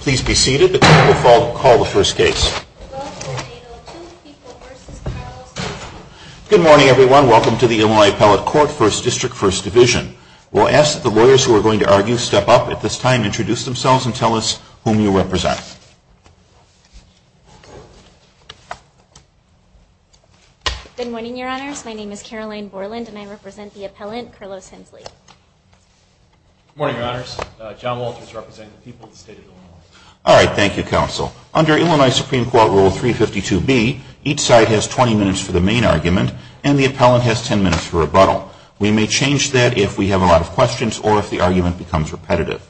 Please be seated. The court will call the first case. Good morning, everyone. Welcome to the Illinois Appellate Court, First District, First Division. We'll ask that the lawyers who are going to argue step up at this time, introduce themselves, and tell us whom you represent. Good morning, Your Honors. My name is Caroline Borland, and I represent the appellant, Carlos Hensley. Good morning, Your Honors. John Walters, representing the people of the state of Illinois. All right. Thank you, Counsel. Under Illinois Supreme Court Rule 352B, each side has 20 minutes for the main argument, and the appellant has 10 minutes for rebuttal. We may change that if we have a lot of questions or if the argument becomes repetitive.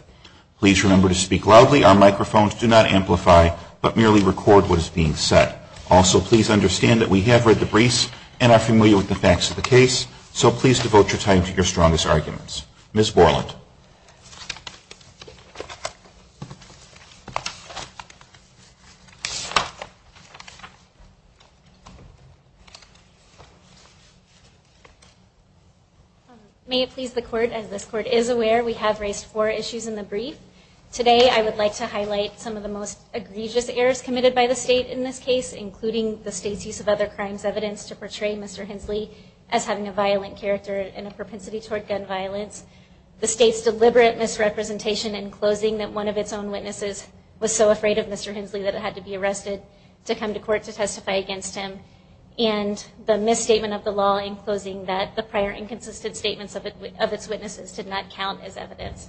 Please remember to speak loudly. Our microphones do not amplify, but merely record what is being said. Also, please understand that we have read the briefs and are familiar with the facts of the case, so please devote your time to your strongest arguments. Ms. Borland. May it please the Court, as this Court is aware, we have raised four issues in the brief. Today, I would like to highlight some of the most egregious errors committed by the state in this case, including the state's use of other crimes evidence to portray Mr. Hensley as having a violent character and a propensity toward gun violence, the state's deliberate misrepresentation in closing that one of its own witnesses was so afraid of Mr. Hensley that it had to be arrested to come to court to testify against him, and the misstatement of the law in closing that the prior inconsistent statements of its witnesses did not count as evidence.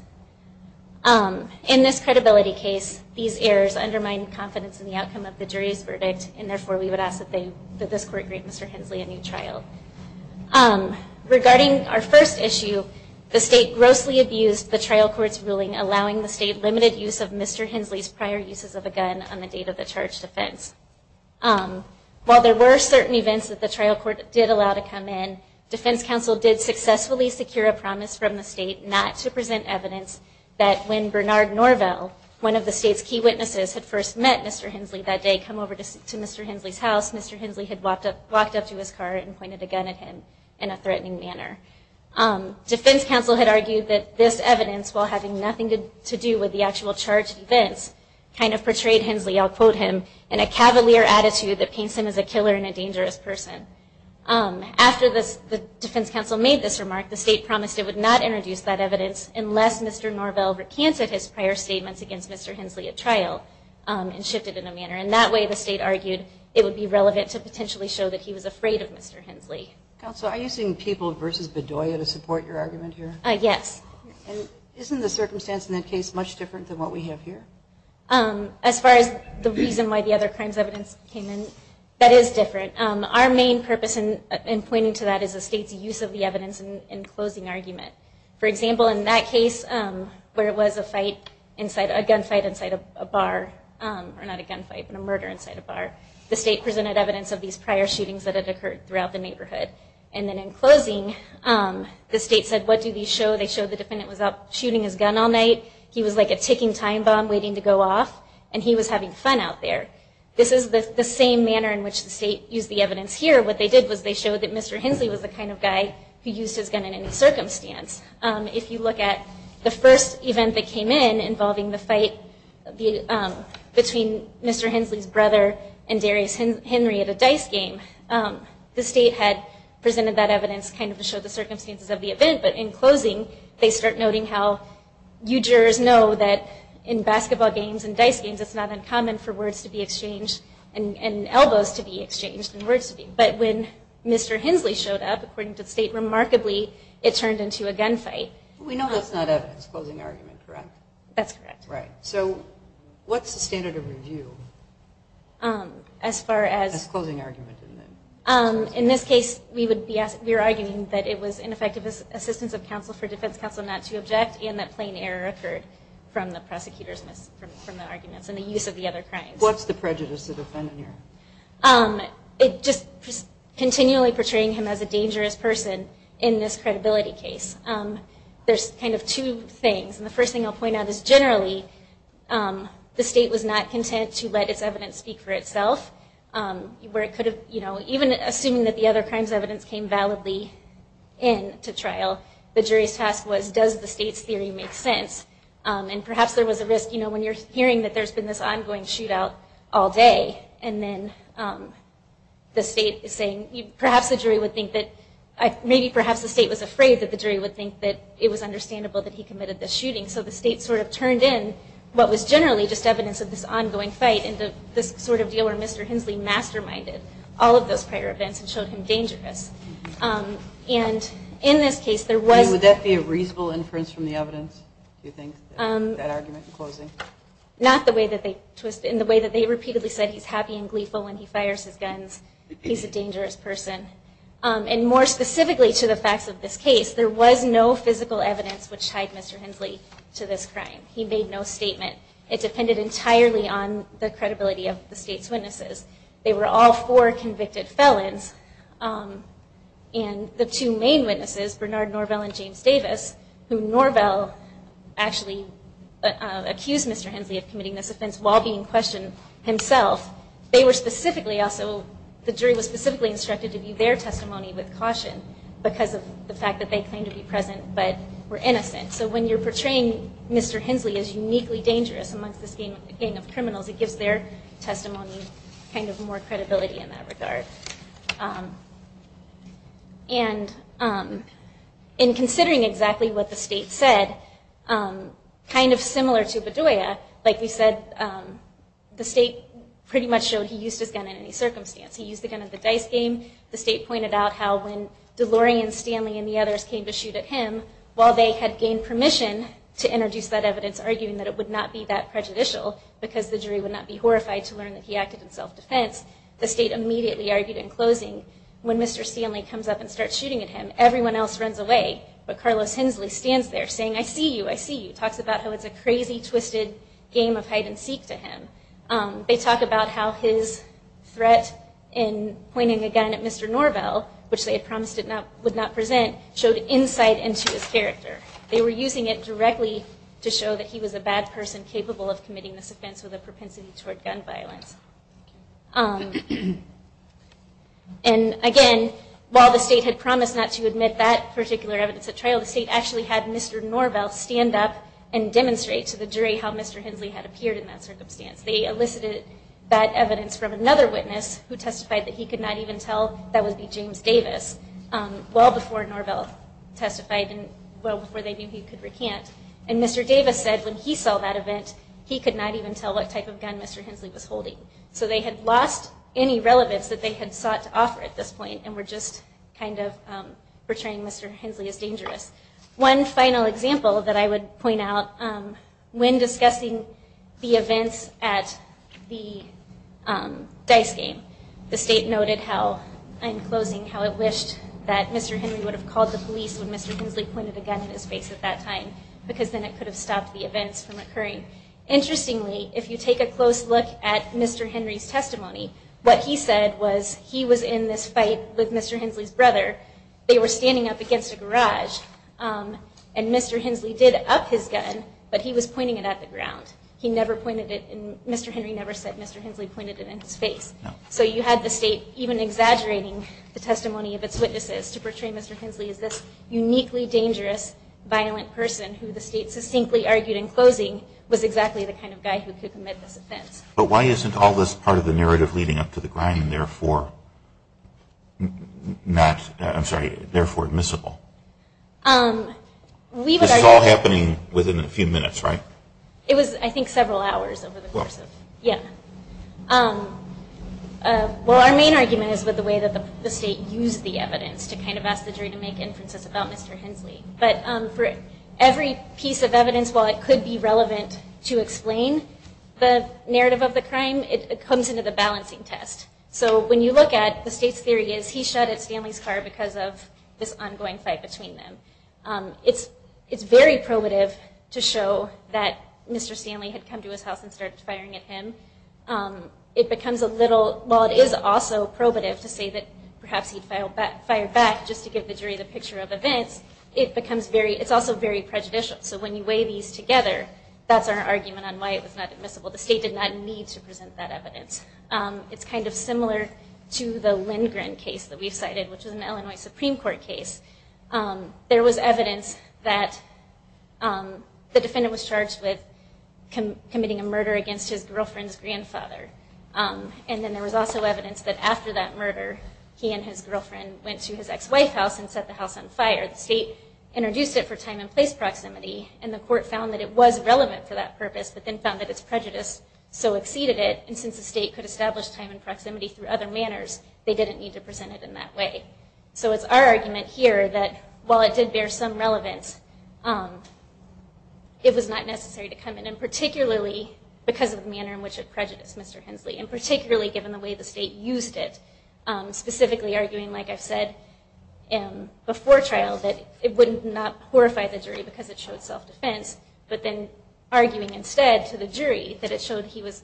In this credibility case, these errors undermine confidence in the outcome of the jury's verdict, and therefore we would ask that this Court grant Mr. Hensley a new trial. Regarding our first issue, the state grossly abused the trial court's ruling, allowing the state limited use of Mr. Hensley's prior uses of a gun on the date of the charged offense. While there were certain events that the trial court did allow to come in, defense counsel did successfully secure a promise from the state not to present evidence that when Bernard Norvell, one of the state's key witnesses, had first met Mr. Hensley that day, come over to Mr. Hensley's house, Mr. Hensley had walked up to his car and pointed a gun at him in a threatening manner. Defense counsel had argued that this evidence, while having nothing to do with the actual charged events, kind of portrayed Hensley, I'll quote him, in a cavalier attitude that paints him as a killer and a dangerous person. After the defense counsel made this remark, the state promised it would not introduce that evidence unless Mr. Norvell recanted his prior statements against Mr. Hensley at trial and shifted it in a manner. And that way the state argued it would be relevant to potentially show that he was afraid of Mr. Hensley. Counsel, are you seeing people versus Bedoya to support your argument here? Yes. And isn't the circumstance in that case much different than what we have here? As far as the reason why the other crimes evidence came in, that is different. Our main purpose in pointing to that is the state's use of the evidence in closing argument. For example, in that case where it was a gunfight inside a bar, or not a gunfight, but a murder inside a bar, the state presented evidence of these prior shootings that had occurred throughout the neighborhood. And then in closing, the state said, what do these show? They showed the defendant was out shooting his gun all night, he was like a ticking time bomb waiting to go off, and he was having fun out there. This is the same manner in which the state used the evidence here. What they did was they showed that Mr. Hensley was the kind of guy who used his gun in any circumstance. If you look at the first event that came in involving the fight between Mr. Hensley's brother and Darius Henry at a dice game, the state had presented that evidence kind of to show the circumstances of the event, but in closing they start noting how you jurors know that in basketball games and dice games it's not uncommon for words to be exchanged and elbows to be exchanged. But when Mr. Hensley showed up, according to the state, remarkably, it turned into a gunfight. We know that's not evidence, closing argument, correct? That's correct. So what's the standard of review as far as closing argument? In this case, we were arguing that it was ineffective assistance of counsel for defense counsel not to object and that plain error occurred from the prosecutor's arguments and the use of the other crimes. What's the prejudice to defend here? Just continually portraying him as a dangerous person in this credibility case. There's kind of two things, and the first thing I'll point out is generally the state was not content to let its evidence speak for itself. Even assuming that the other crime's evidence came validly in to trial, the jury's task was, does the state's theory make sense? And perhaps there was a risk, you know, when you're hearing that there's been this ongoing shootout all day and then the state is saying, perhaps the jury would think that, maybe perhaps the state was afraid that the jury would think that it was understandable that he committed this shooting, so the state sort of turned in what was generally just evidence of this ongoing fight into this sort of deal where Mr. Hensley masterminded all of those prior events and showed him dangerous. And in this case there was... Would that be a reasonable inference from the evidence, do you think, that argument in closing? Not the way that they twisted, in the way that they repeatedly said he's happy and gleeful when he fires his guns, he's a dangerous person. And more specifically to the facts of this case, there was no physical evidence which tied Mr. Hensley to this crime. He made no statement. It depended entirely on the credibility of the state's witnesses. They were all four convicted felons. And the two main witnesses, Bernard Norvell and James Davis, who Norvell actually accused Mr. Hensley of committing this offense while being questioned himself, they were specifically also... The jury was specifically instructed to view their testimony with caution because of the fact that they claimed to be present but were innocent. So when you're portraying Mr. Hensley as uniquely dangerous amongst this gang of criminals, it gives their testimony kind of more credibility in that regard. And in considering exactly what the state said, kind of similar to Bedoya, like we said, the state pretty much showed he used his gun in any circumstance. He used the gun at the dice game. The state pointed out how when DeLorean, Stanley, and the others came to shoot at him, while they had gained permission to introduce that evidence, arguing that it would not be that prejudicial because the jury would not be horrified to learn that he acted in self-defense, the state immediately argued in closing, when Mr. Stanley comes up and starts shooting at him, everyone else runs away, but Carlos Hensley stands there saying, I see you, I see you, talks about how it's a crazy, twisted game of hide-and-seek to him. They talk about how his threat in pointing a gun at Mr. Norvell, they were using it directly to show that he was a bad person capable of committing this offense with a propensity toward gun violence. And again, while the state had promised not to admit that particular evidence at trial, the state actually had Mr. Norvell stand up and demonstrate to the jury how Mr. Hensley had appeared in that circumstance. They elicited that evidence from another witness, who testified that he could not even tell that would be James Davis, well before Norvell testified and well before they knew he could recant. And Mr. Davis said when he saw that event, he could not even tell what type of gun Mr. Hensley was holding. So they had lost any relevance that they had sought to offer at this point and were just kind of portraying Mr. Hensley as dangerous. One final example that I would point out, when discussing the events at the dice game, the state noted how, in closing, how it wished that Mr. Henry would have called the police when Mr. Hensley pointed a gun in his face at that time, because then it could have stopped the events from occurring. Interestingly, if you take a close look at Mr. Henry's testimony, what he said was he was in this fight with Mr. Hensley's brother, they were standing up against a garage, and Mr. Hensley did up his gun, but he was pointing it at the ground. He never pointed it, Mr. Henry never said Mr. Hensley pointed it in his face. So you had the state even exaggerating the testimony of its witnesses to portray Mr. Hensley as this uniquely dangerous, violent person who the state succinctly argued in closing was exactly the kind of guy who could commit this offense. But why isn't all this part of the narrative leading up to the crime therefore admissible? This is all happening within a few minutes, right? It was, I think, several hours over the course of, yeah. Well, our main argument is with the way that the state used the evidence to kind of ask the jury to make inferences about Mr. Hensley. But for every piece of evidence, while it could be relevant to explain the narrative of the crime, it comes into the balancing test. So when you look at the state's theory is he shot at Stanley's car because of this ongoing fight between them. It's very probative to show that Mr. Stanley had come to his house and started firing at him. It becomes a little, while it is also probative to say that perhaps he'd fire back just to give the jury the picture of events, it's also very prejudicial. So when you weigh these together, that's our argument on why it was not admissible. The state did not need to present that evidence. It's kind of similar to the Lindgren case that we've cited, which is an Illinois Supreme Court case. There was evidence that the defendant was charged with committing a murder against his girlfriend's grandfather. And then there was also evidence that after that murder, he and his girlfriend went to his ex-wife's house and set the house on fire. The state introduced it for time and place proximity, and the court found that it was relevant for that purpose, but then found that its prejudice so exceeded it, and since the state could establish time and proximity through other manners, they didn't need to present it in that way. So it's our argument here that while it did bear some relevance, it was not necessary to come in, and particularly because of the manner in which it prejudiced Mr. Hensley, and particularly given the way the state used it, specifically arguing, like I've said before trial, that it would not horrify the jury because it showed self-defense, but then arguing instead to the jury that it showed he was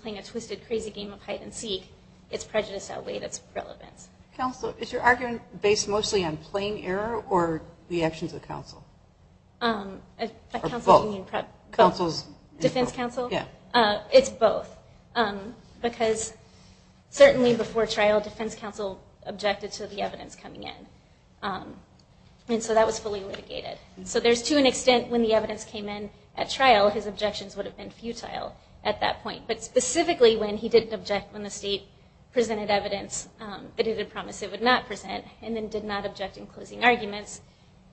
playing a twisted, crazy game of hide-and-seek. Its prejudice outweighed its relevance. Counsel, is your argument based mostly on plain error, or the actions of counsel? Both. Defense counsel? Yeah. It's both, because certainly before trial, defense counsel objected to the evidence coming in, and so that was fully litigated. So there's to an extent when the evidence came in at trial, his objections would have been futile at that point, but specifically when he didn't object when the state presented evidence that it had promised it would not present, and then did not object in closing arguments,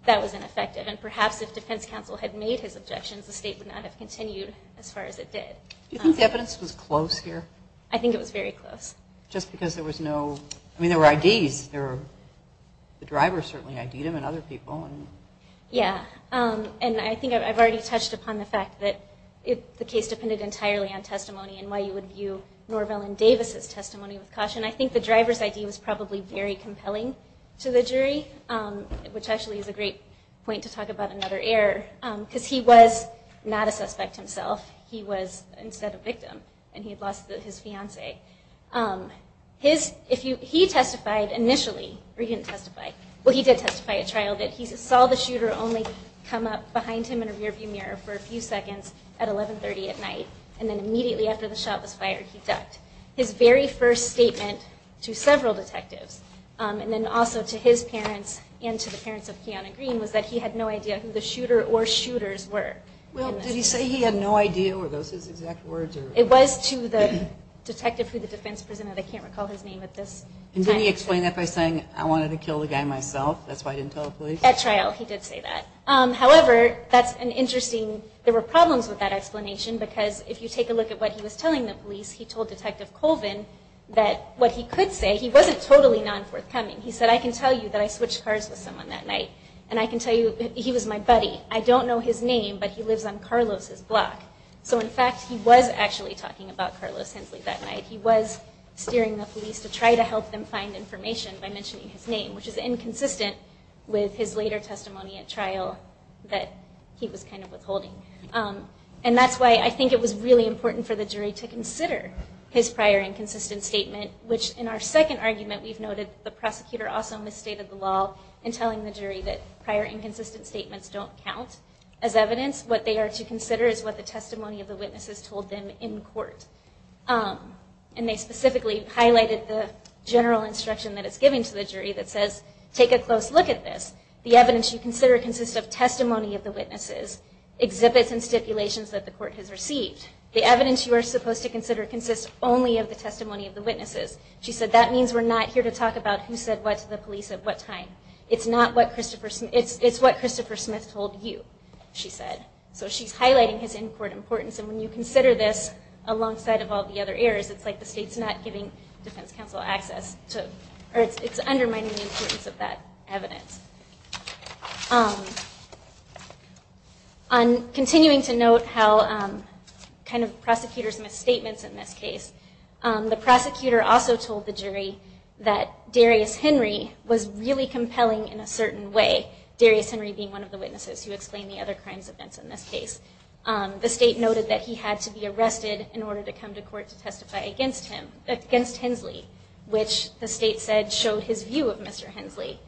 that was ineffective. And perhaps if defense counsel had made his objections, the state would not have continued as far as it did. Do you think the evidence was close here? I think it was very close. Just because there was no, I mean, there were IDs. The driver certainly ID'd him and other people. Yeah, and I think I've already touched upon the fact that the case and why you would view Norvell and Davis's testimony with caution. I think the driver's ID was probably very compelling to the jury, which actually is a great point to talk about another error, because he was not a suspect himself. He was instead a victim, and he had lost his fiancee. He testified initially, or he didn't testify. Well, he did testify at trial that he saw the shooter only come up behind him in a rearview mirror for a few seconds at 1130 at night, and then immediately after the shot was fired, he ducked. His very first statement to several detectives, and then also to his parents and to the parents of Kiana Green, was that he had no idea who the shooter or shooters were. Well, did he say he had no idea? Were those his exact words? It was to the detective who the defense presented. I can't recall his name at this time. And did he explain that by saying, I wanted to kill the guy myself, that's why I didn't tell the police? At trial, he did say that. However, that's an interesting, there were problems with that explanation, because if you take a look at what he was telling the police, he told Detective Colvin that what he could say, he wasn't totally non-forthcoming. He said, I can tell you that I switched cars with someone that night, and I can tell you he was my buddy. I don't know his name, but he lives on Carlos' block. So in fact, he was actually talking about Carlos Hensley that night. He was steering the police to try to help them find information by mentioning his name, which is inconsistent with his later testimony at trial that he was kind of withholding. And that's why I think it was really important for the jury to consider his prior inconsistent statement, which in our second argument, we've noted the prosecutor also misstated the law in telling the jury that prior inconsistent statements don't count as evidence. What they are to consider is what the testimony of the witnesses told them in court. And they specifically highlighted the general instruction that it's giving to the jury that says, take a close look at this. The evidence you consider consists of testimony of the witnesses, exhibits and stipulations that the court has received. The evidence you are supposed to consider consists only of the testimony of the witnesses. She said, that means we're not here to talk about who said what to the police at what time. It's what Christopher Smith told you, she said. So she's highlighting his in-court importance. And when you consider this alongside of all the other errors, it's like the state's not giving defense counsel access to or it's undermining the importance of that evidence. Continuing to note how kind of prosecutors' misstatements in this case, the prosecutor also told the jury that Darius Henry was really compelling in a certain way, Darius Henry being one of the witnesses who explained the other crimes events in this case. The state noted that he had to be arrested in order to come to court to testify against him, against Hensley, which the state said showed his view of Mr. Hensley.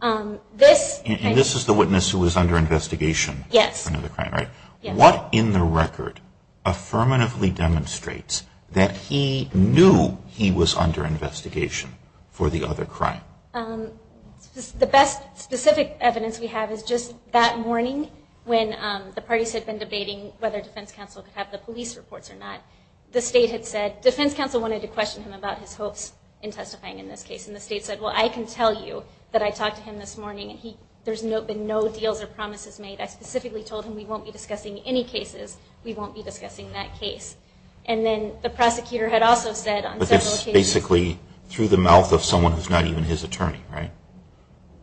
And this is the witness who was under investigation for another crime, right? Yes. What in the record affirmatively demonstrates that he knew he was under investigation for the other crime? The best specific evidence we have is just that morning when the parties had been debating whether defense counsel could have the police reports or not. The state had said, defense counsel wanted to question him about his hopes in testifying in this case. And the state said, well, I can tell you that I talked to him this morning and there's been no deals or promises made. I specifically told him we won't be discussing any cases, we won't be discussing that case. And then the prosecutor had also said on several occasions. But that's basically through the mouth of someone who's not even his attorney, right?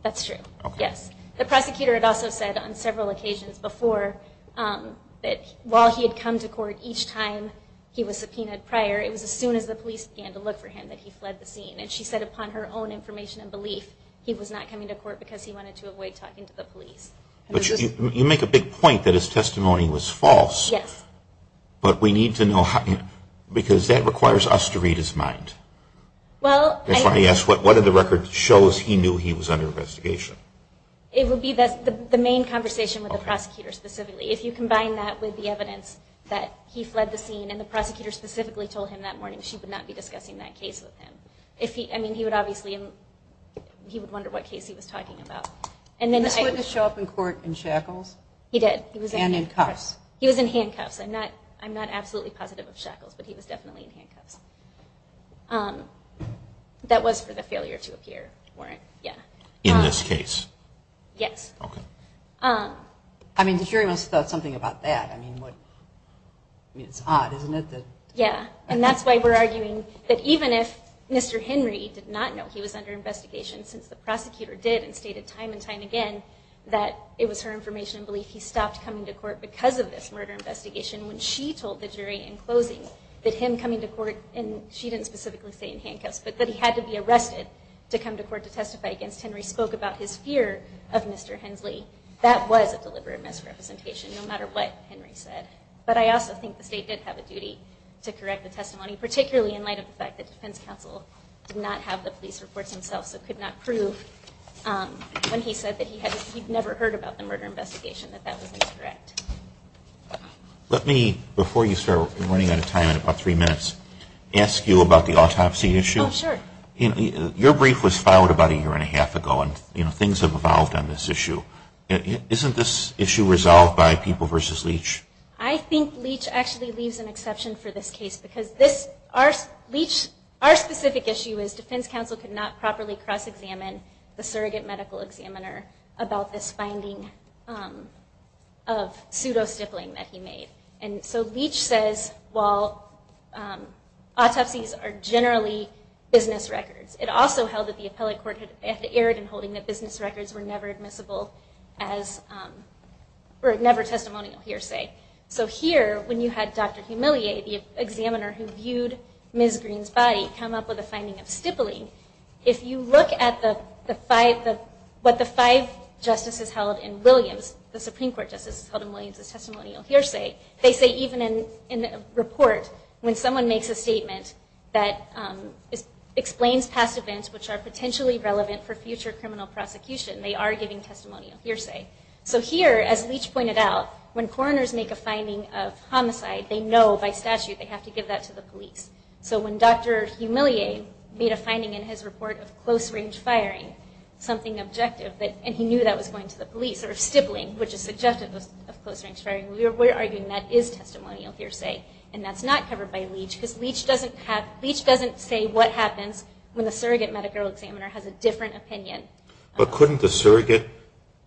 That's true. Yes. The prosecutor had also said on several occasions before that while he had come to court each time he was subpoenaed prior, it was as soon as the police began to look for him that he fled the scene. And she said upon her own information and belief, he was not coming to court because he wanted to avoid talking to the police. But you make a big point that his testimony was false. Yes. But we need to know, because that requires us to read his mind. Well, I... That's why he asked whether the record shows he knew he was under investigation. It would be the main conversation with the prosecutor specifically. If you combine that with the evidence that he fled the scene and the prosecutor specifically told him that morning she would not be discussing that case with him. I mean, he would obviously wonder what case he was talking about. Did this witness show up in court in shackles? He did. And in cuffs. He was in handcuffs. I'm not absolutely positive of shackles, but he was definitely in handcuffs. That was for the failure to appear warrant, yeah. In this case? Yes. Okay. I mean, the jury must have thought something about that. I mean, it's odd, isn't it? Yeah. And that's why we're arguing that even if Mr. Henry did not know he was under investigation, since the prosecutor did and stated time and time again that it was her information and belief he stopped coming to court because of this murder investigation, when she told the jury in closing that him coming to court and she didn't specifically say in handcuffs, but that he had to be arrested to come to court to testify against Henry spoke about his fear of Mr. Hensley. That was a deliberate misrepresentation, no matter what Henry said. But I also think the state did have a duty to correct the testimony, particularly in light of the fact that defense counsel did not have the police reports themselves, so could not prove when he said that he'd never heard about the murder investigation, that that was incorrect. Let me, before you start running out of time in about three minutes, ask you about the autopsy issue. Oh, sure. Your brief was filed about a year and a half ago, and things have evolved on this issue. Isn't this issue resolved by People v. Leach? I think Leach actually leaves an exception for this case, because our specific issue is defense counsel could not properly cross-examine the surrogate medical examiner about this finding of pseudo-stippling that he made. So Leach says, well, autopsies are generally business records. It also held that the appellate court had erred in holding that business records were never testimonial hearsay. So here, when you had Dr. Humillier, the examiner who viewed Ms. Green's body, come up with a finding of stippling, if you look at what the five justices held in Williams, the Supreme Court justices held in Williams as testimonial hearsay, they say even in the report when someone makes a statement that explains past events which are potentially relevant for future criminal prosecution, they are giving testimonial hearsay. So here, as Leach pointed out, when coroners make a finding of homicide, they know by statute they have to give that to the police. So when Dr. Humillier made a finding in his report of close-range firing, something objective, and he knew that was going to the police, or stippling, which is suggestive of close-range firing, we're arguing that is testimonial hearsay, and that's not covered by Leach, because Leach doesn't say what happens when the surrogate medical examiner has a different opinion. But couldn't the surrogate,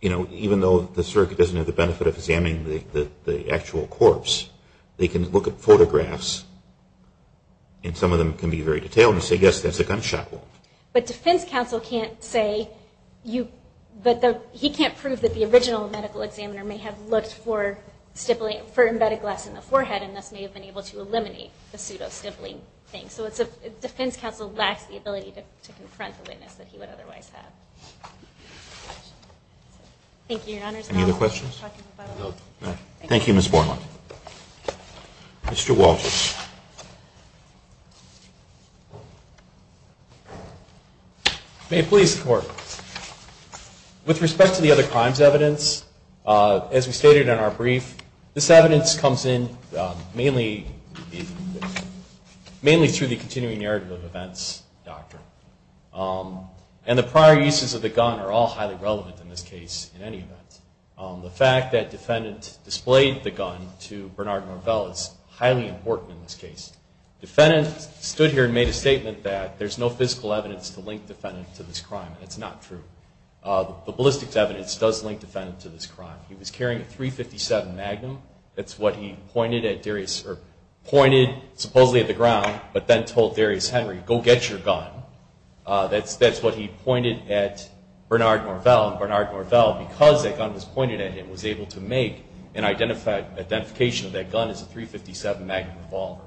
you know, even though the surrogate doesn't have the benefit of examining the actual corpse, they can look at photographs, and some of them can be very detailed, and say, yes, that's a gunshot wound. But defense counsel can't say, but he can't prove that the original medical examiner may have looked for embedded glass in the forehead and thus may have been able to eliminate the pseudo-stippling thing. So defense counsel lacks the ability to confront the witness that he would otherwise have. Thank you, Your Honors. Any other questions? No. Thank you, Ms. Borland. Mr. Walters. May it please the Court. With respect to the other crimes evidence, as we stated in our brief, this evidence comes in mainly through the continuing narrative of events doctrine. And the prior uses of the gun are all highly relevant in this case in any event. The fact that defendants displayed the gun to Bernard Norvell is highly important in this case. Defendants stood here and made a statement that there's no physical evidence to link defendant to this crime, and it's not true. The ballistics evidence does link defendant to this crime. He was carrying a .357 Magnum. That's what he pointed at Darius or pointed supposedly at the ground but then told Darius Henry, go get your gun. That's what he pointed at Bernard Norvell. And Bernard Norvell, because that gun was pointed at him, was able to make an identification of that gun as a .357 Magnum revolver.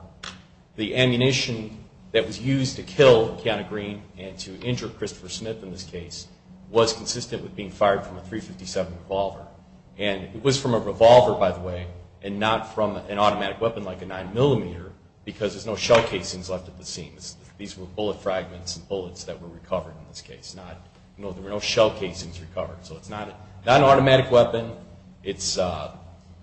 The ammunition that was used to kill Keanu Green and to injure Christopher Smith in this case was consistent with being fired from a .357 revolver. And it was from a revolver, by the way, and not from an automatic weapon like a 9mm because there's no shell casings left at the seams. These were bullet fragments and bullets that were recovered in this case. There were no shell casings recovered. So it's not an automatic weapon. It's a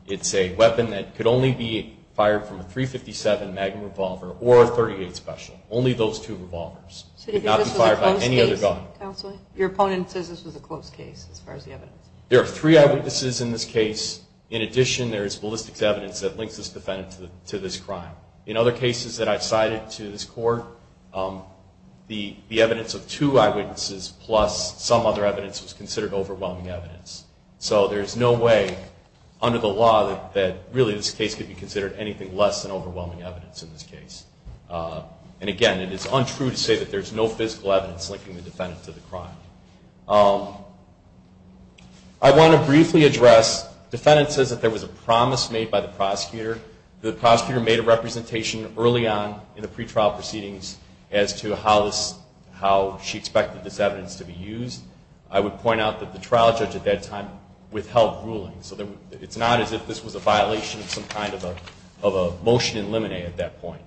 weapon that could only be fired from a .357 Magnum revolver or a .38 Special, only those two revolvers. It could not be fired by any other gun. Counsel, your opponent says this was a close case as far as the evidence. There are three eyewitnesses in this case. In addition, there is ballistics evidence that links this defendant to this crime. In other cases that I've cited to this court, the evidence of two eyewitnesses plus some other evidence was considered overwhelming evidence. So there's no way under the law that, really, this case could be considered anything less than overwhelming evidence in this case. And again, it is untrue to say that there's no physical evidence linking the defendant to the crime. I want to briefly address, the defendant says that there was a promise made by the prosecutor. The prosecutor made a representation early on in the pretrial proceedings as to how she expected this evidence to be used. I would point out that the trial judge at that time withheld ruling. So it's not as if this was a violation of some kind of a motion in limine at that point.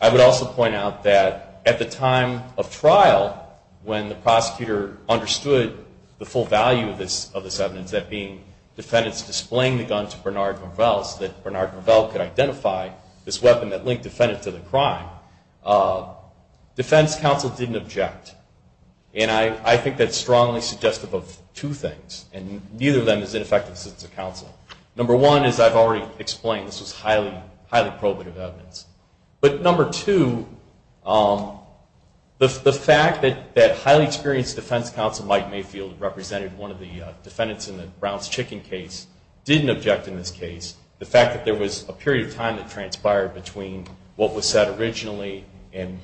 I would also point out that at the time of trial, when the prosecutor understood the full value of this evidence, that being defendants displaying the gun to Bernard Gravel, so that Bernard Gravel could identify this weapon that linked the defendant to the crime, defense counsel didn't object. And I think that's strongly suggestive of two things, and neither of them is ineffective assistance of counsel. Number one is, I've already explained, this was highly probative evidence. But number two, the fact that highly experienced defense counsel, Mike Mayfield, represented one of the defendants in the Brown's Chicken case, didn't object in this case. The fact that there was a period of time that transpired between what was said originally and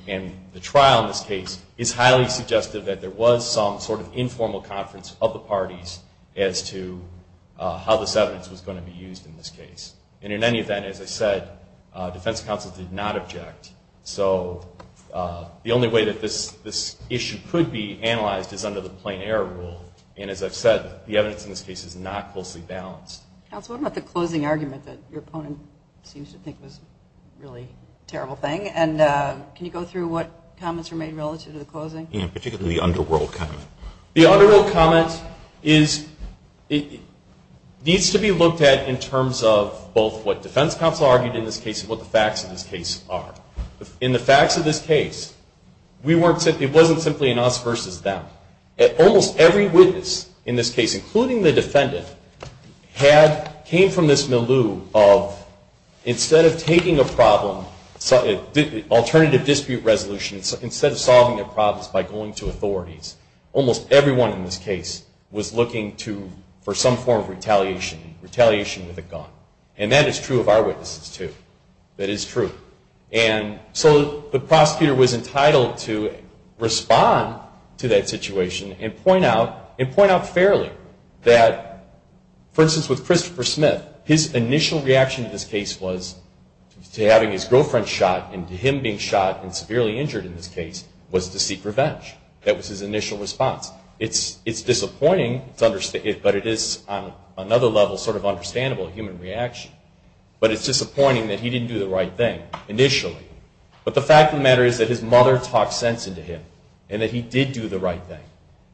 the trial in this case is highly suggestive that there was some sort of informal conference of the parties as to how this evidence was going to be used in this case. And in any event, as I said, defense counsel did not object. So the only way that this issue could be analyzed is under the plain error rule. And as I've said, the evidence in this case is not closely balanced. Counsel, what about the closing argument that your opponent seems to think was a really terrible thing? And can you go through what comments were made relative to the closing? Yeah, particularly the underworld comment. The underworld comment needs to be looked at in terms of both what defense counsel argued in this case and what the facts of this case are. In the facts of this case, it wasn't simply an us versus them. Almost every witness in this case, including the defendant, came from this milieu of, instead of taking a problem, alternative dispute resolution, instead of solving their problems by going to authorities, almost everyone in this case was looking for some form of retaliation, retaliation with a gun. And that is true of our witnesses, too. That is true. And so the prosecutor was entitled to respond to that situation and point out fairly that, for instance, with Christopher Smith, his initial reaction to this case was to having his girlfriend shot and to him being shot and severely injured in this case was to seek revenge. That was his initial response. It's disappointing, but it is on another level sort of understandable human reaction. But it's disappointing that he didn't do the right thing initially. But the fact of the matter is that his mother talked sense into him and that he did do the right thing,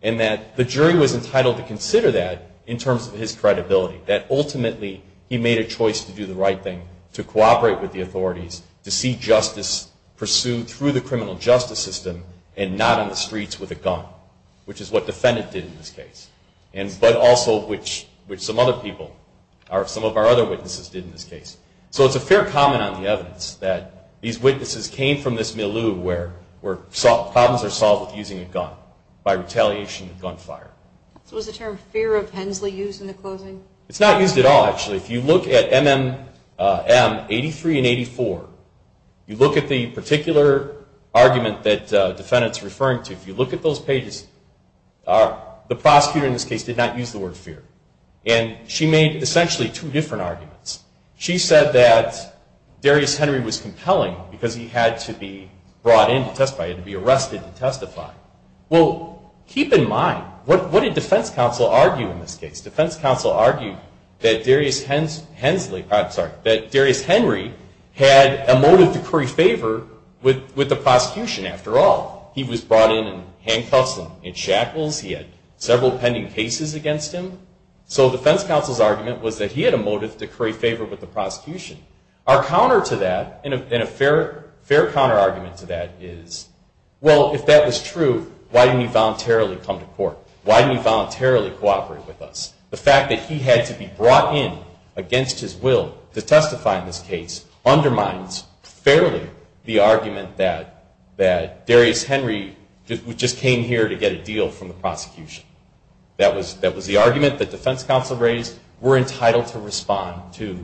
and that the jury was entitled to consider that in terms of his credibility, that ultimately he made a choice to do the right thing, to cooperate with the authorities, to see justice pursued through the criminal justice system and not on the streets with a gun, which is what the defendant did in this case, but also which some other people, some of our other witnesses did in this case. So it's a fair comment on the evidence that these witnesses came from this milieu where problems are solved with using a gun, by retaliation of gunfire. So was the term fear of Hensley used in the closing? It's not used at all, actually. If you look at M83 and 84, you look at the particular argument that the defendant is referring to, if you look at those pages, the prosecutor in this case did not use the word fear. And she made essentially two different arguments. She said that Darius Henry was compelling because he had to be brought in to testify, he had to be arrested to testify. Well, keep in mind, what did defense counsel argue in this case? Defense counsel argued that Darius Henry had a motive to curry favor with the prosecution after all. He was brought in in handcuffs and shackles. He had several pending cases against him. So defense counsel's argument was that he had a motive to curry favor with the prosecution. Our counter to that, and a fair counter argument to that is, well, if that was true, why didn't he voluntarily come to court? Why didn't he voluntarily cooperate with us? The fact that he had to be brought in against his will to testify in this case undermines fairly the argument that Darius Henry just came here to get a deal from the prosecution. That was the argument that defense counsel raised. We're entitled to respond to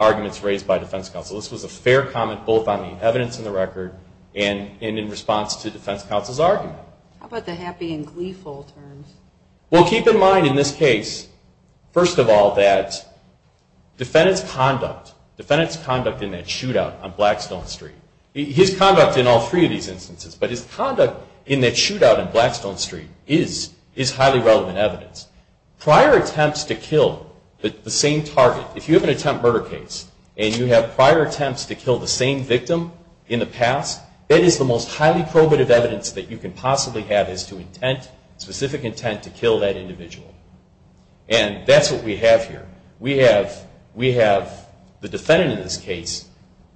arguments raised by defense counsel. This was a fair comment both on the evidence in the record and in response to defense counsel's argument. How about the happy and gleeful terms? Well, keep in mind in this case, first of all, that defendant's conduct, defendant's conduct in that shootout on Blackstone Street, his conduct in all three of these instances, but his conduct in that shootout on Blackstone Street is highly relevant evidence. Prior attempts to kill the same target, if you have an attempt murder case and you have prior attempts to kill the same victim in the past, that is the most highly probative evidence that you can possibly have as to intent, specific intent to kill that individual. And that's what we have here. We have the defendant in this case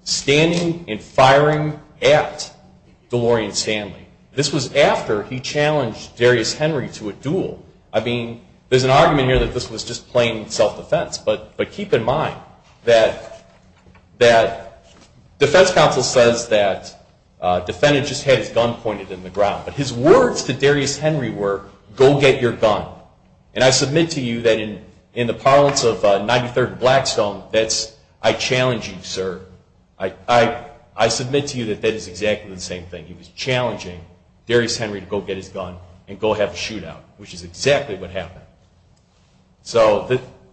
standing and firing at DeLorean Stanley. This was after he challenged Darius Henry to a duel. I mean, there's an argument here that this was just plain self-defense. But keep in mind that defense counsel says that defendant just had his gun pointed in the ground. But his words to Darius Henry were, go get your gun. And I submit to you that in the parlance of 93rd and Blackstone, that's, I challenge you, sir. I submit to you that that is exactly the same thing. He was challenging Darius Henry to go get his gun and go have a shootout, which is exactly what happened. So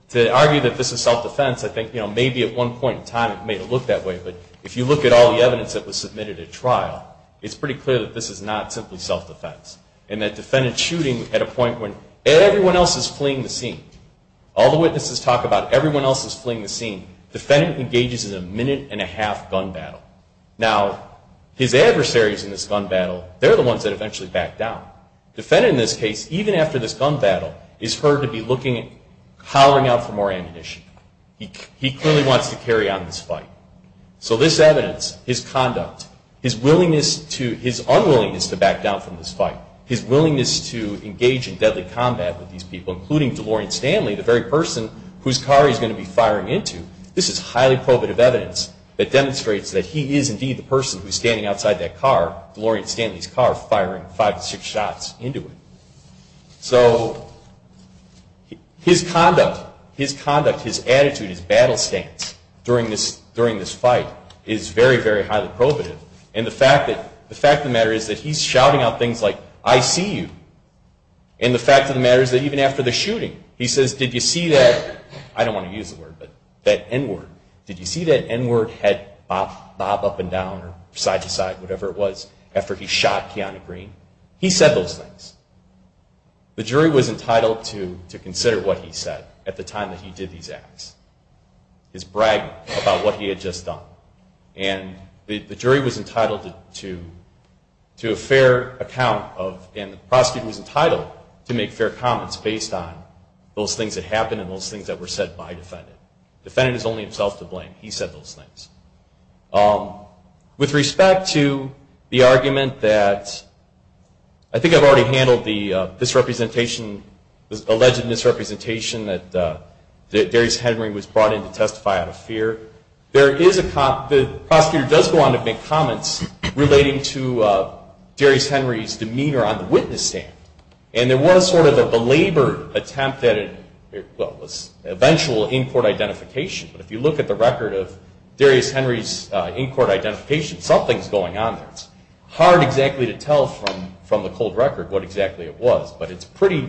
to argue that this is self-defense, I think maybe at one point in time it may have looked that way. But if you look at all the evidence that was submitted at trial, it's pretty clear that this is not simply self-defense. And that defendant shooting at a point when everyone else is fleeing the scene, all the witnesses talk about everyone else is fleeing the scene, defendant engages in a minute and a half gun battle. Now, his adversaries in this gun battle, they're the ones that eventually back down. Defendant in this case, even after this gun battle, is heard to be looking, hollering out for more ammunition. He clearly wants to carry on this fight. So this evidence, his conduct, his willingness to, his unwillingness to back down from this fight, his willingness to engage in deadly combat with these people, including DeLorean Stanley, the very person whose car he's going to be firing into, this is highly probative evidence that demonstrates that he is indeed the person who's standing outside that car, DeLorean Stanley's car, firing five to six shots into it. So his conduct, his conduct, his attitude, his battle stance during this fight is very, very highly probative. And the fact of the matter is that he's shouting out things like, I see you. And the fact of the matter is that even after the shooting, he says, did you see that, I don't want to use the word, but that N-word, did you see that N-word head bob up and down or side to side, whatever it was, after he shot Keanu Green? He said those things. The jury was entitled to consider what he said at the time that he did these acts, his bragging about what he had just done. And the jury was entitled to a fair account of, and the prosecutor was entitled to make fair comments based on those things that happened and those things that were said by the defendant. Defendant is only himself to blame. He said those things. With respect to the argument that, I think I've already handled the alleged misrepresentation that Darius Henry was brought in to testify out of fear. The prosecutor does go on to make comments relating to Darius Henry's demeanor on the witness stand. And there was sort of a belabored attempt at an eventual in-court identification. But if you look at the record of Darius Henry's in-court identification, something's going on there. It's hard exactly to tell from the cold record what exactly it was, but it's pretty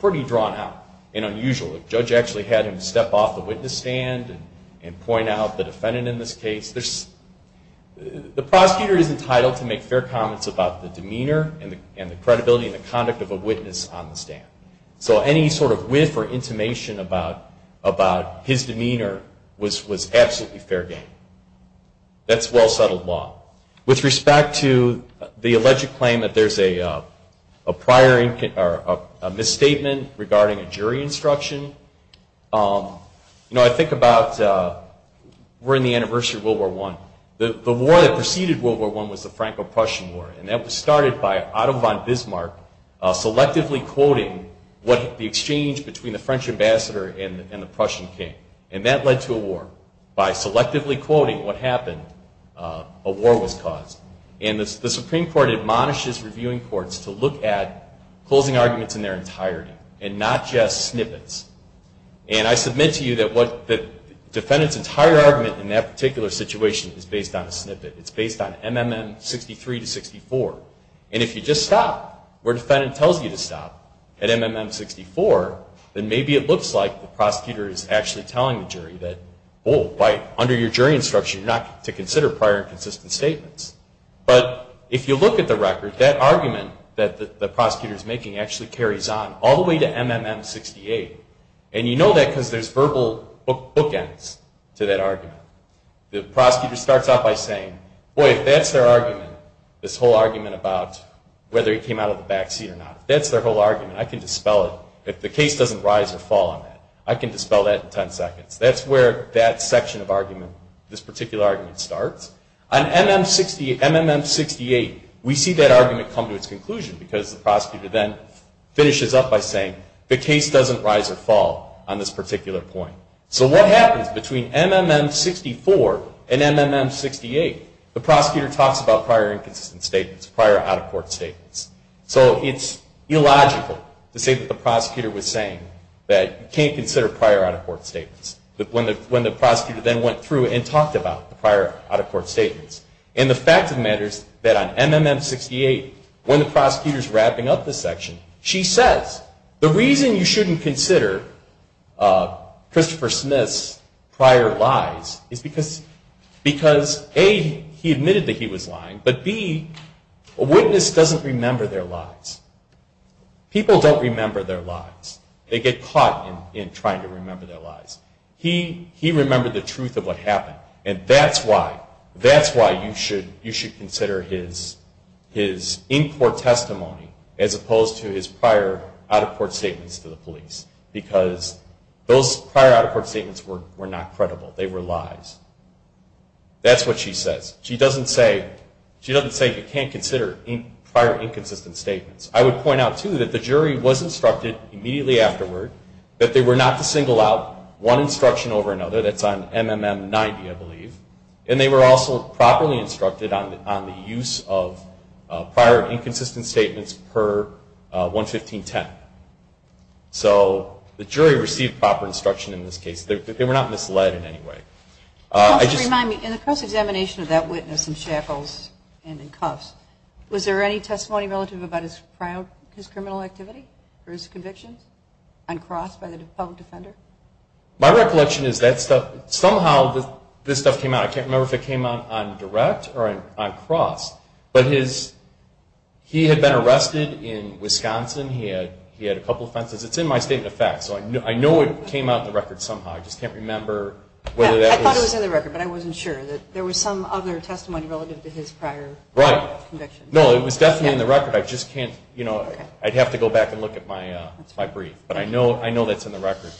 drawn out and unusual. The judge actually had him step off the witness stand and point out the defendant in this case. The prosecutor is entitled to make fair comments about the demeanor and the credibility and the conduct of a witness on the stand. So any sort of whiff or intimation about his demeanor was absolutely fair game. That's well-settled law. With respect to the alleged claim that there's a prior misstatement regarding a jury instruction, you know, I think about we're in the anniversary of World War I. The war that preceded World War I was the Franco-Prussian War. And that was started by Otto von Bismarck selectively quoting what the exchange between the French ambassador and the Prussian king. And that led to a war. By selectively quoting what happened, a war was caused. And the Supreme Court admonishes reviewing courts to look at closing arguments in their entirety and not just snippets. And I submit to you that the defendant's entire argument in that particular situation is based on a snippet. It's based on MMM 63 to 64. And if you just stop where the defendant tells you to stop at MMM 64, then maybe it looks like the prosecutor is actually telling the jury that, oh, under your jury instruction you're not to consider prior inconsistent statements. But if you look at the record, that argument that the prosecutor is making actually carries on all the way to MMM 68. And you know that because there's verbal bookends to that argument. The prosecutor starts off by saying, boy, if that's their argument, this whole argument about whether he came out of the backseat or not, if that's their whole argument, I can dispel it. If the case doesn't rise or fall on that, I can dispel that in 10 seconds. That's where that section of argument, this particular argument, starts. On MMM 68, we see that argument come to its conclusion, because the prosecutor then finishes up by saying, the case doesn't rise or fall on this particular point. So what happens between MMM 64 and MMM 68? The prosecutor talks about prior inconsistent statements, prior out-of-court statements. So it's illogical to say that the prosecutor was saying that you can't consider prior out-of-court statements. When the prosecutor then went through and talked about the prior out-of-court statements. And the fact of the matter is that on MMM 68, when the prosecutor is wrapping up this section, she says, the reason you shouldn't consider Christopher Smith's prior lies is because, A, he admitted that he was lying, but B, a witness doesn't remember their lies. People don't remember their lies. They get caught in trying to remember their lies. He remembered the truth of what happened. And that's why you should consider his in-court testimony, as opposed to his prior out-of-court statements to the police, because those prior out-of-court statements were not credible. They were lies. That's what she says. She doesn't say you can't consider prior inconsistent statements. I would point out, too, that the jury was instructed immediately afterward that they were not to single out one instruction over another. That's on MMM 90, I believe. And they were also properly instructed on the use of prior inconsistent statements per 11510. So the jury received proper instruction in this case. They were not misled in any way. Just to remind me, in the cross-examination of that witness in shackles and in cuffs, was there any testimony relative about his criminal activity or his convictions on cross by the public defender? My recollection is that somehow this stuff came out. I can't remember if it came out on direct or on cross. But he had been arrested in Wisconsin. He had a couple offenses. It's in my state of the fact, so I know it came out in the record somehow. I just can't remember whether that was. I thought it was in the record, but I wasn't sure. There was some other testimony relative to his prior. Right. No, it was definitely in the record. I just can't, you know, I'd have to go back and look at my brief. But I know that's in the record.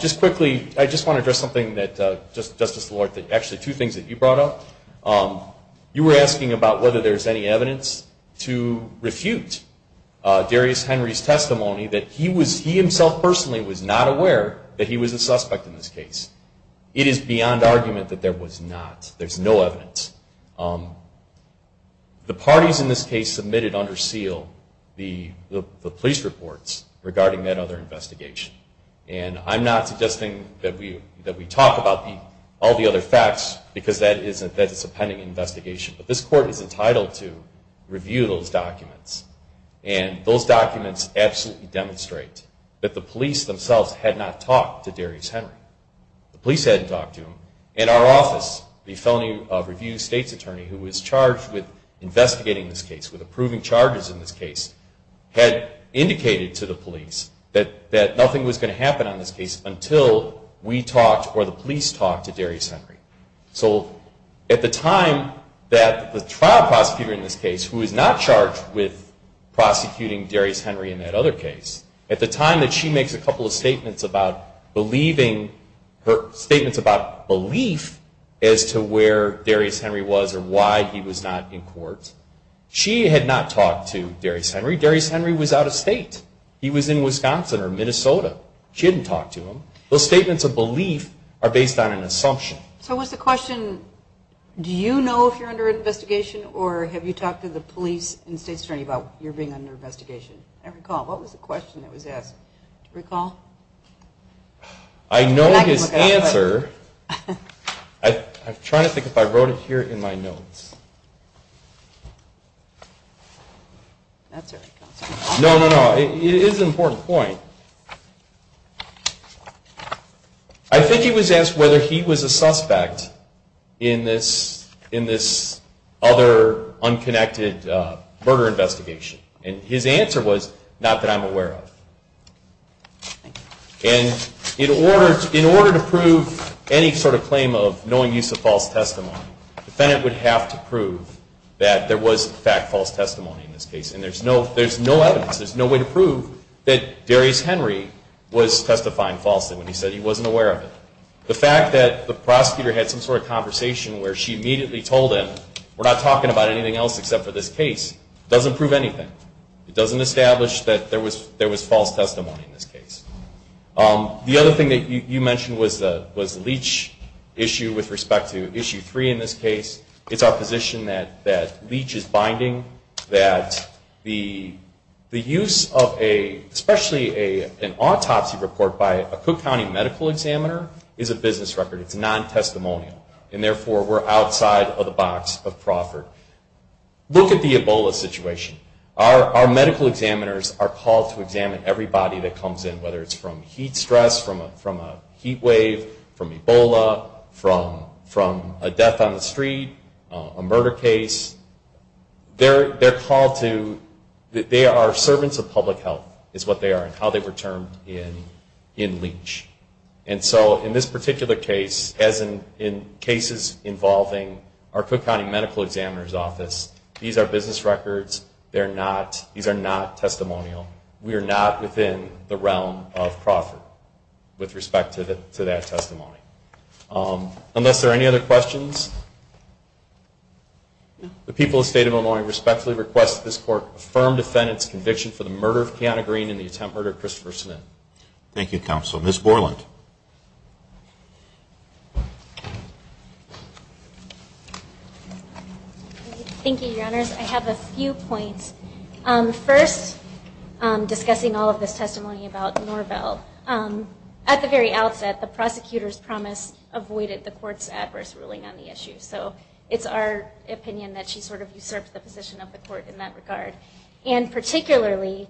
Just quickly, I just want to address something that Justice Lord, actually two things that you brought up. You were asking about whether there's any evidence to refute Darius Henry's testimony that he himself personally was not aware that he was a suspect in this case. It is beyond argument that there was not. There's no evidence. The parties in this case submitted under seal the police reports regarding that other investigation. And I'm not suggesting that we talk about all the other facts, because that is a pending investigation. But this Court is entitled to review those documents. And those documents absolutely demonstrate that the police themselves had not talked to Darius Henry. The police hadn't talked to him. And our office, the felony review state's attorney, who was charged with investigating this case, with approving charges in this case, had indicated to the police that nothing was going to happen on this case until we talked or the police talked to Darius Henry. So at the time that the trial prosecutor in this case, who is not charged with prosecuting Darius Henry in that other case, at the time that she makes a couple of statements about believing, statements about belief as to where Darius Henry was or why he was not in court, she had not talked to Darius Henry. Darius Henry was out of state. He was in Wisconsin or Minnesota. She hadn't talked to him. Those statements of belief are based on an assumption. So what's the question? Do you know if you're under investigation, or have you talked to the police and state's attorney about your being under investigation? I recall. What was the question that was asked? Do you recall? I know his answer. I'm trying to think if I wrote it here in my notes. No, no, no. It is an important point. I think he was asked whether he was a suspect in this other unconnected murder investigation. And his answer was, not that I'm aware of. And in order to prove any sort of claim of knowing use of false testimony, the defendant would have to prove that there was, in fact, false testimony in this case. And there's no evidence, there's no way to prove that Darius Henry was testifying falsely when he said he wasn't aware of it. The fact that the prosecutor had some sort of conversation where she immediately told him, we're not talking about anything else except for this case, doesn't prove anything. It doesn't establish that there was false testimony in this case. The other thing that you mentioned was the Leach issue with respect to Issue 3 in this case. It's our position that Leach is binding, that the use of a, especially an autopsy report by a Cook County medical examiner, is a business record. It's non-testimonial, and therefore we're outside of the box of Crawford. Look at the Ebola situation. Our medical examiners are called to examine everybody that comes in, whether it's from heat stress, from a heat wave, from Ebola, from a death on the street, a murder case. They're called to, they are servants of public health, is what they are, and how they were termed in Leach. And so in this particular case, as in cases involving our Cook County medical examiner's office, these are business records. These are not testimonial. We are not within the realm of Crawford with respect to that testimony. Unless there are any other questions, the people of the State of Illinois respectfully request that this Court affirm defendant's conviction for the murder of Kiana Green and the attempt murder of Christopher Smith. Thank you, Counsel. Ms. Borland. Thank you, Your Honors. I have a few points. First, discussing all of this testimony about Norvell, at the very outset, the prosecutor's promise avoided the court's adverse ruling on the issue. So it's our opinion that she sort of usurped the position of the court in that regard. And particularly,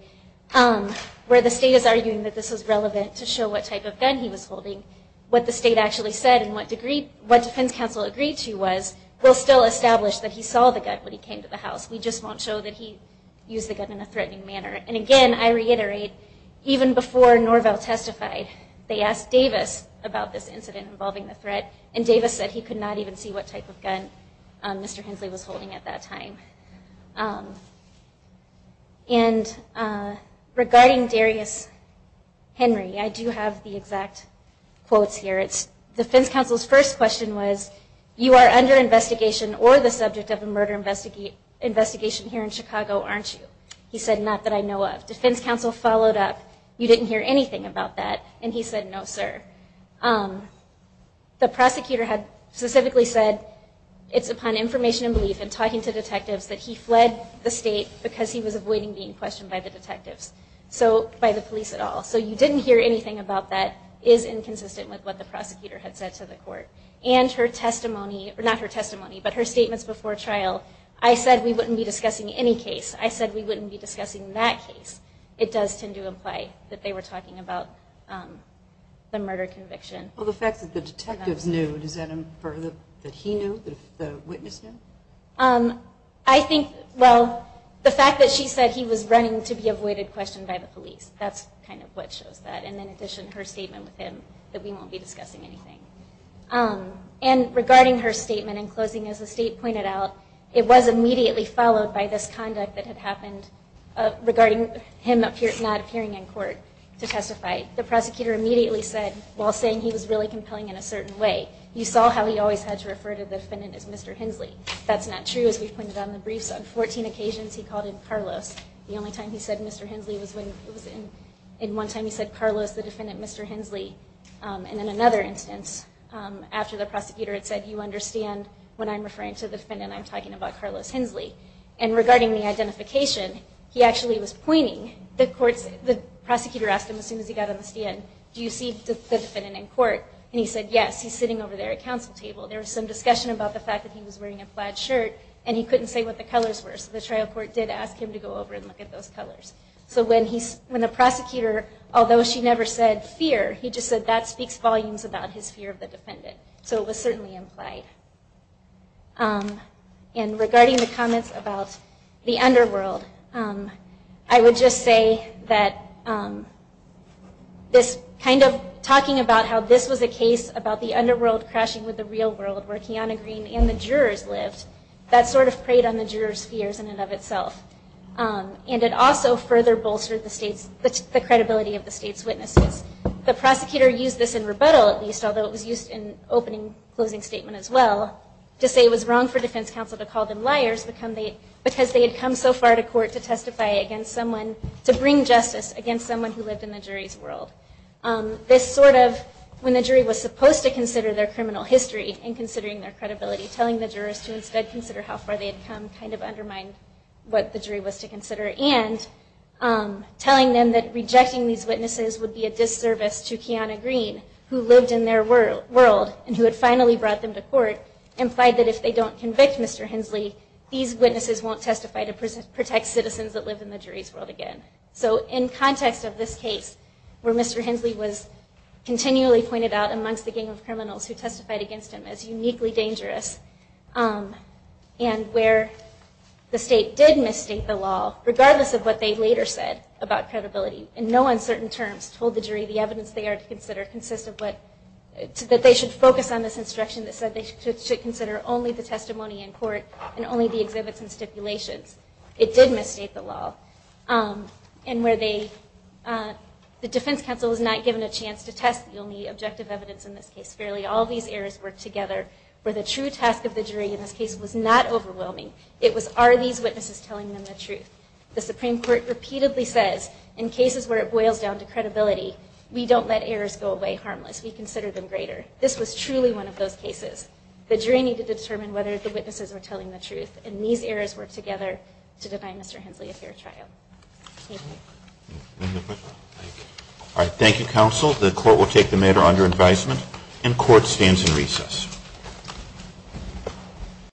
where the state is arguing that this is relevant to show what type of gun he was holding, what the state actually said and what defense counsel agreed to was, we'll still establish that he saw the gun when he came to the house. We just won't show that he used the gun in a threatening manner. And again, I reiterate, even before Norvell testified, they asked Davis about this incident involving the threat, and Davis said he could not even see what type of gun Mr. Hensley was holding at that time. And regarding Darius Henry, I do have the exact quotes here. Defense counsel's first question was, you are under investigation or the subject of a murder investigation here in Chicago, aren't you? He said, not that I know of. Defense counsel followed up, you didn't hear anything about that. And he said, no, sir. The prosecutor had specifically said, it's upon information and belief in talking to detectives that he fled the state because he was avoiding being questioned by the detectives, by the police at all. So you didn't hear anything about that is inconsistent with what the prosecutor had said to the court. And her testimony, not her testimony, but her statements before trial, I said we wouldn't be discussing any case. I said we wouldn't be discussing that case. It does tend to imply that they were talking about the murder conviction. Well, the fact that the detectives knew, does that infer that he knew, that the witness knew? I think, well, the fact that she said he was running to be avoided question by the police, that's kind of what shows that. And in addition, her statement with him that we won't be discussing anything. And regarding her statement in closing, as the state pointed out, it was immediately followed by this conduct that had happened regarding him not appearing in court to testify. The prosecutor immediately said, while saying he was really compelling in a certain way, you saw how he always had to refer to the defendant as Mr. Hensley. That's not true, as we've pointed out in the briefs. On 14 occasions he called him Carlos. The only time he said Mr. Hensley was when it was in one time he said Carlos, the defendant Mr. Hensley. And in another instance, after the prosecutor had said, you understand when I'm referring to the defendant I'm talking about Carlos Hensley. And regarding the identification, he actually was pointing, the prosecutor asked him as soon as he got on the stand, do you see the defendant in court? And he said yes, he's sitting over there at council table. There was some discussion about the fact that he was wearing a plaid shirt and he couldn't say what the colors were. So the trial court did ask him to go over and look at those colors. So when the prosecutor, although she never said fear, he just said that speaks volumes about his fear of the defendant. So it was certainly implied. And regarding the comments about the underworld, I would just say that this kind of talking about how this was a case about the underworld crashing with the real world where Kiana Green and the jurors lived, that sort of preyed on the jurors' fears in and of itself. And it also further bolstered the credibility of the state's witnesses. The prosecutor used this in rebuttal at least, although it was used in opening closing statement as well, to say it was wrong for defense counsel to call them liars because they had come so far to court to bring justice against someone who lived in the jury's world. This sort of, when the jury was supposed to consider their criminal history and considering their credibility, telling the jurors to instead consider how far they had come kind of undermined what the jury was to consider. And telling them that rejecting these witnesses would be a disservice to Kiana Green, who lived in their world and who had finally brought them to court, implied that if they don't convict Mr. Hensley, these witnesses won't testify to protect citizens that live in the jury's world again. So in context of this case, where Mr. Hensley was continually pointed out amongst the gang of criminals who testified against him as uniquely dangerous, and where the state did misstate the law, regardless of what they later said about credibility, that they should focus on this instruction that said they should consider only the testimony in court and only the exhibits and stipulations. It did misstate the law. And where the defense counsel was not given a chance to test the only objective evidence in this case. Clearly all these errors work together. Where the true task of the jury in this case was not overwhelming. It was are these witnesses telling them the truth. The Supreme Court repeatedly says, in cases where it boils down to credibility, we don't let errors go away harmless. We consider them greater. This was truly one of those cases. The jury needed to determine whether the witnesses were telling the truth. And these errors work together to deny Mr. Hensley a fair trial. Thank you. Any other questions? All right. Thank you, counsel. The court will take the matter under advisement. And court stands in recess.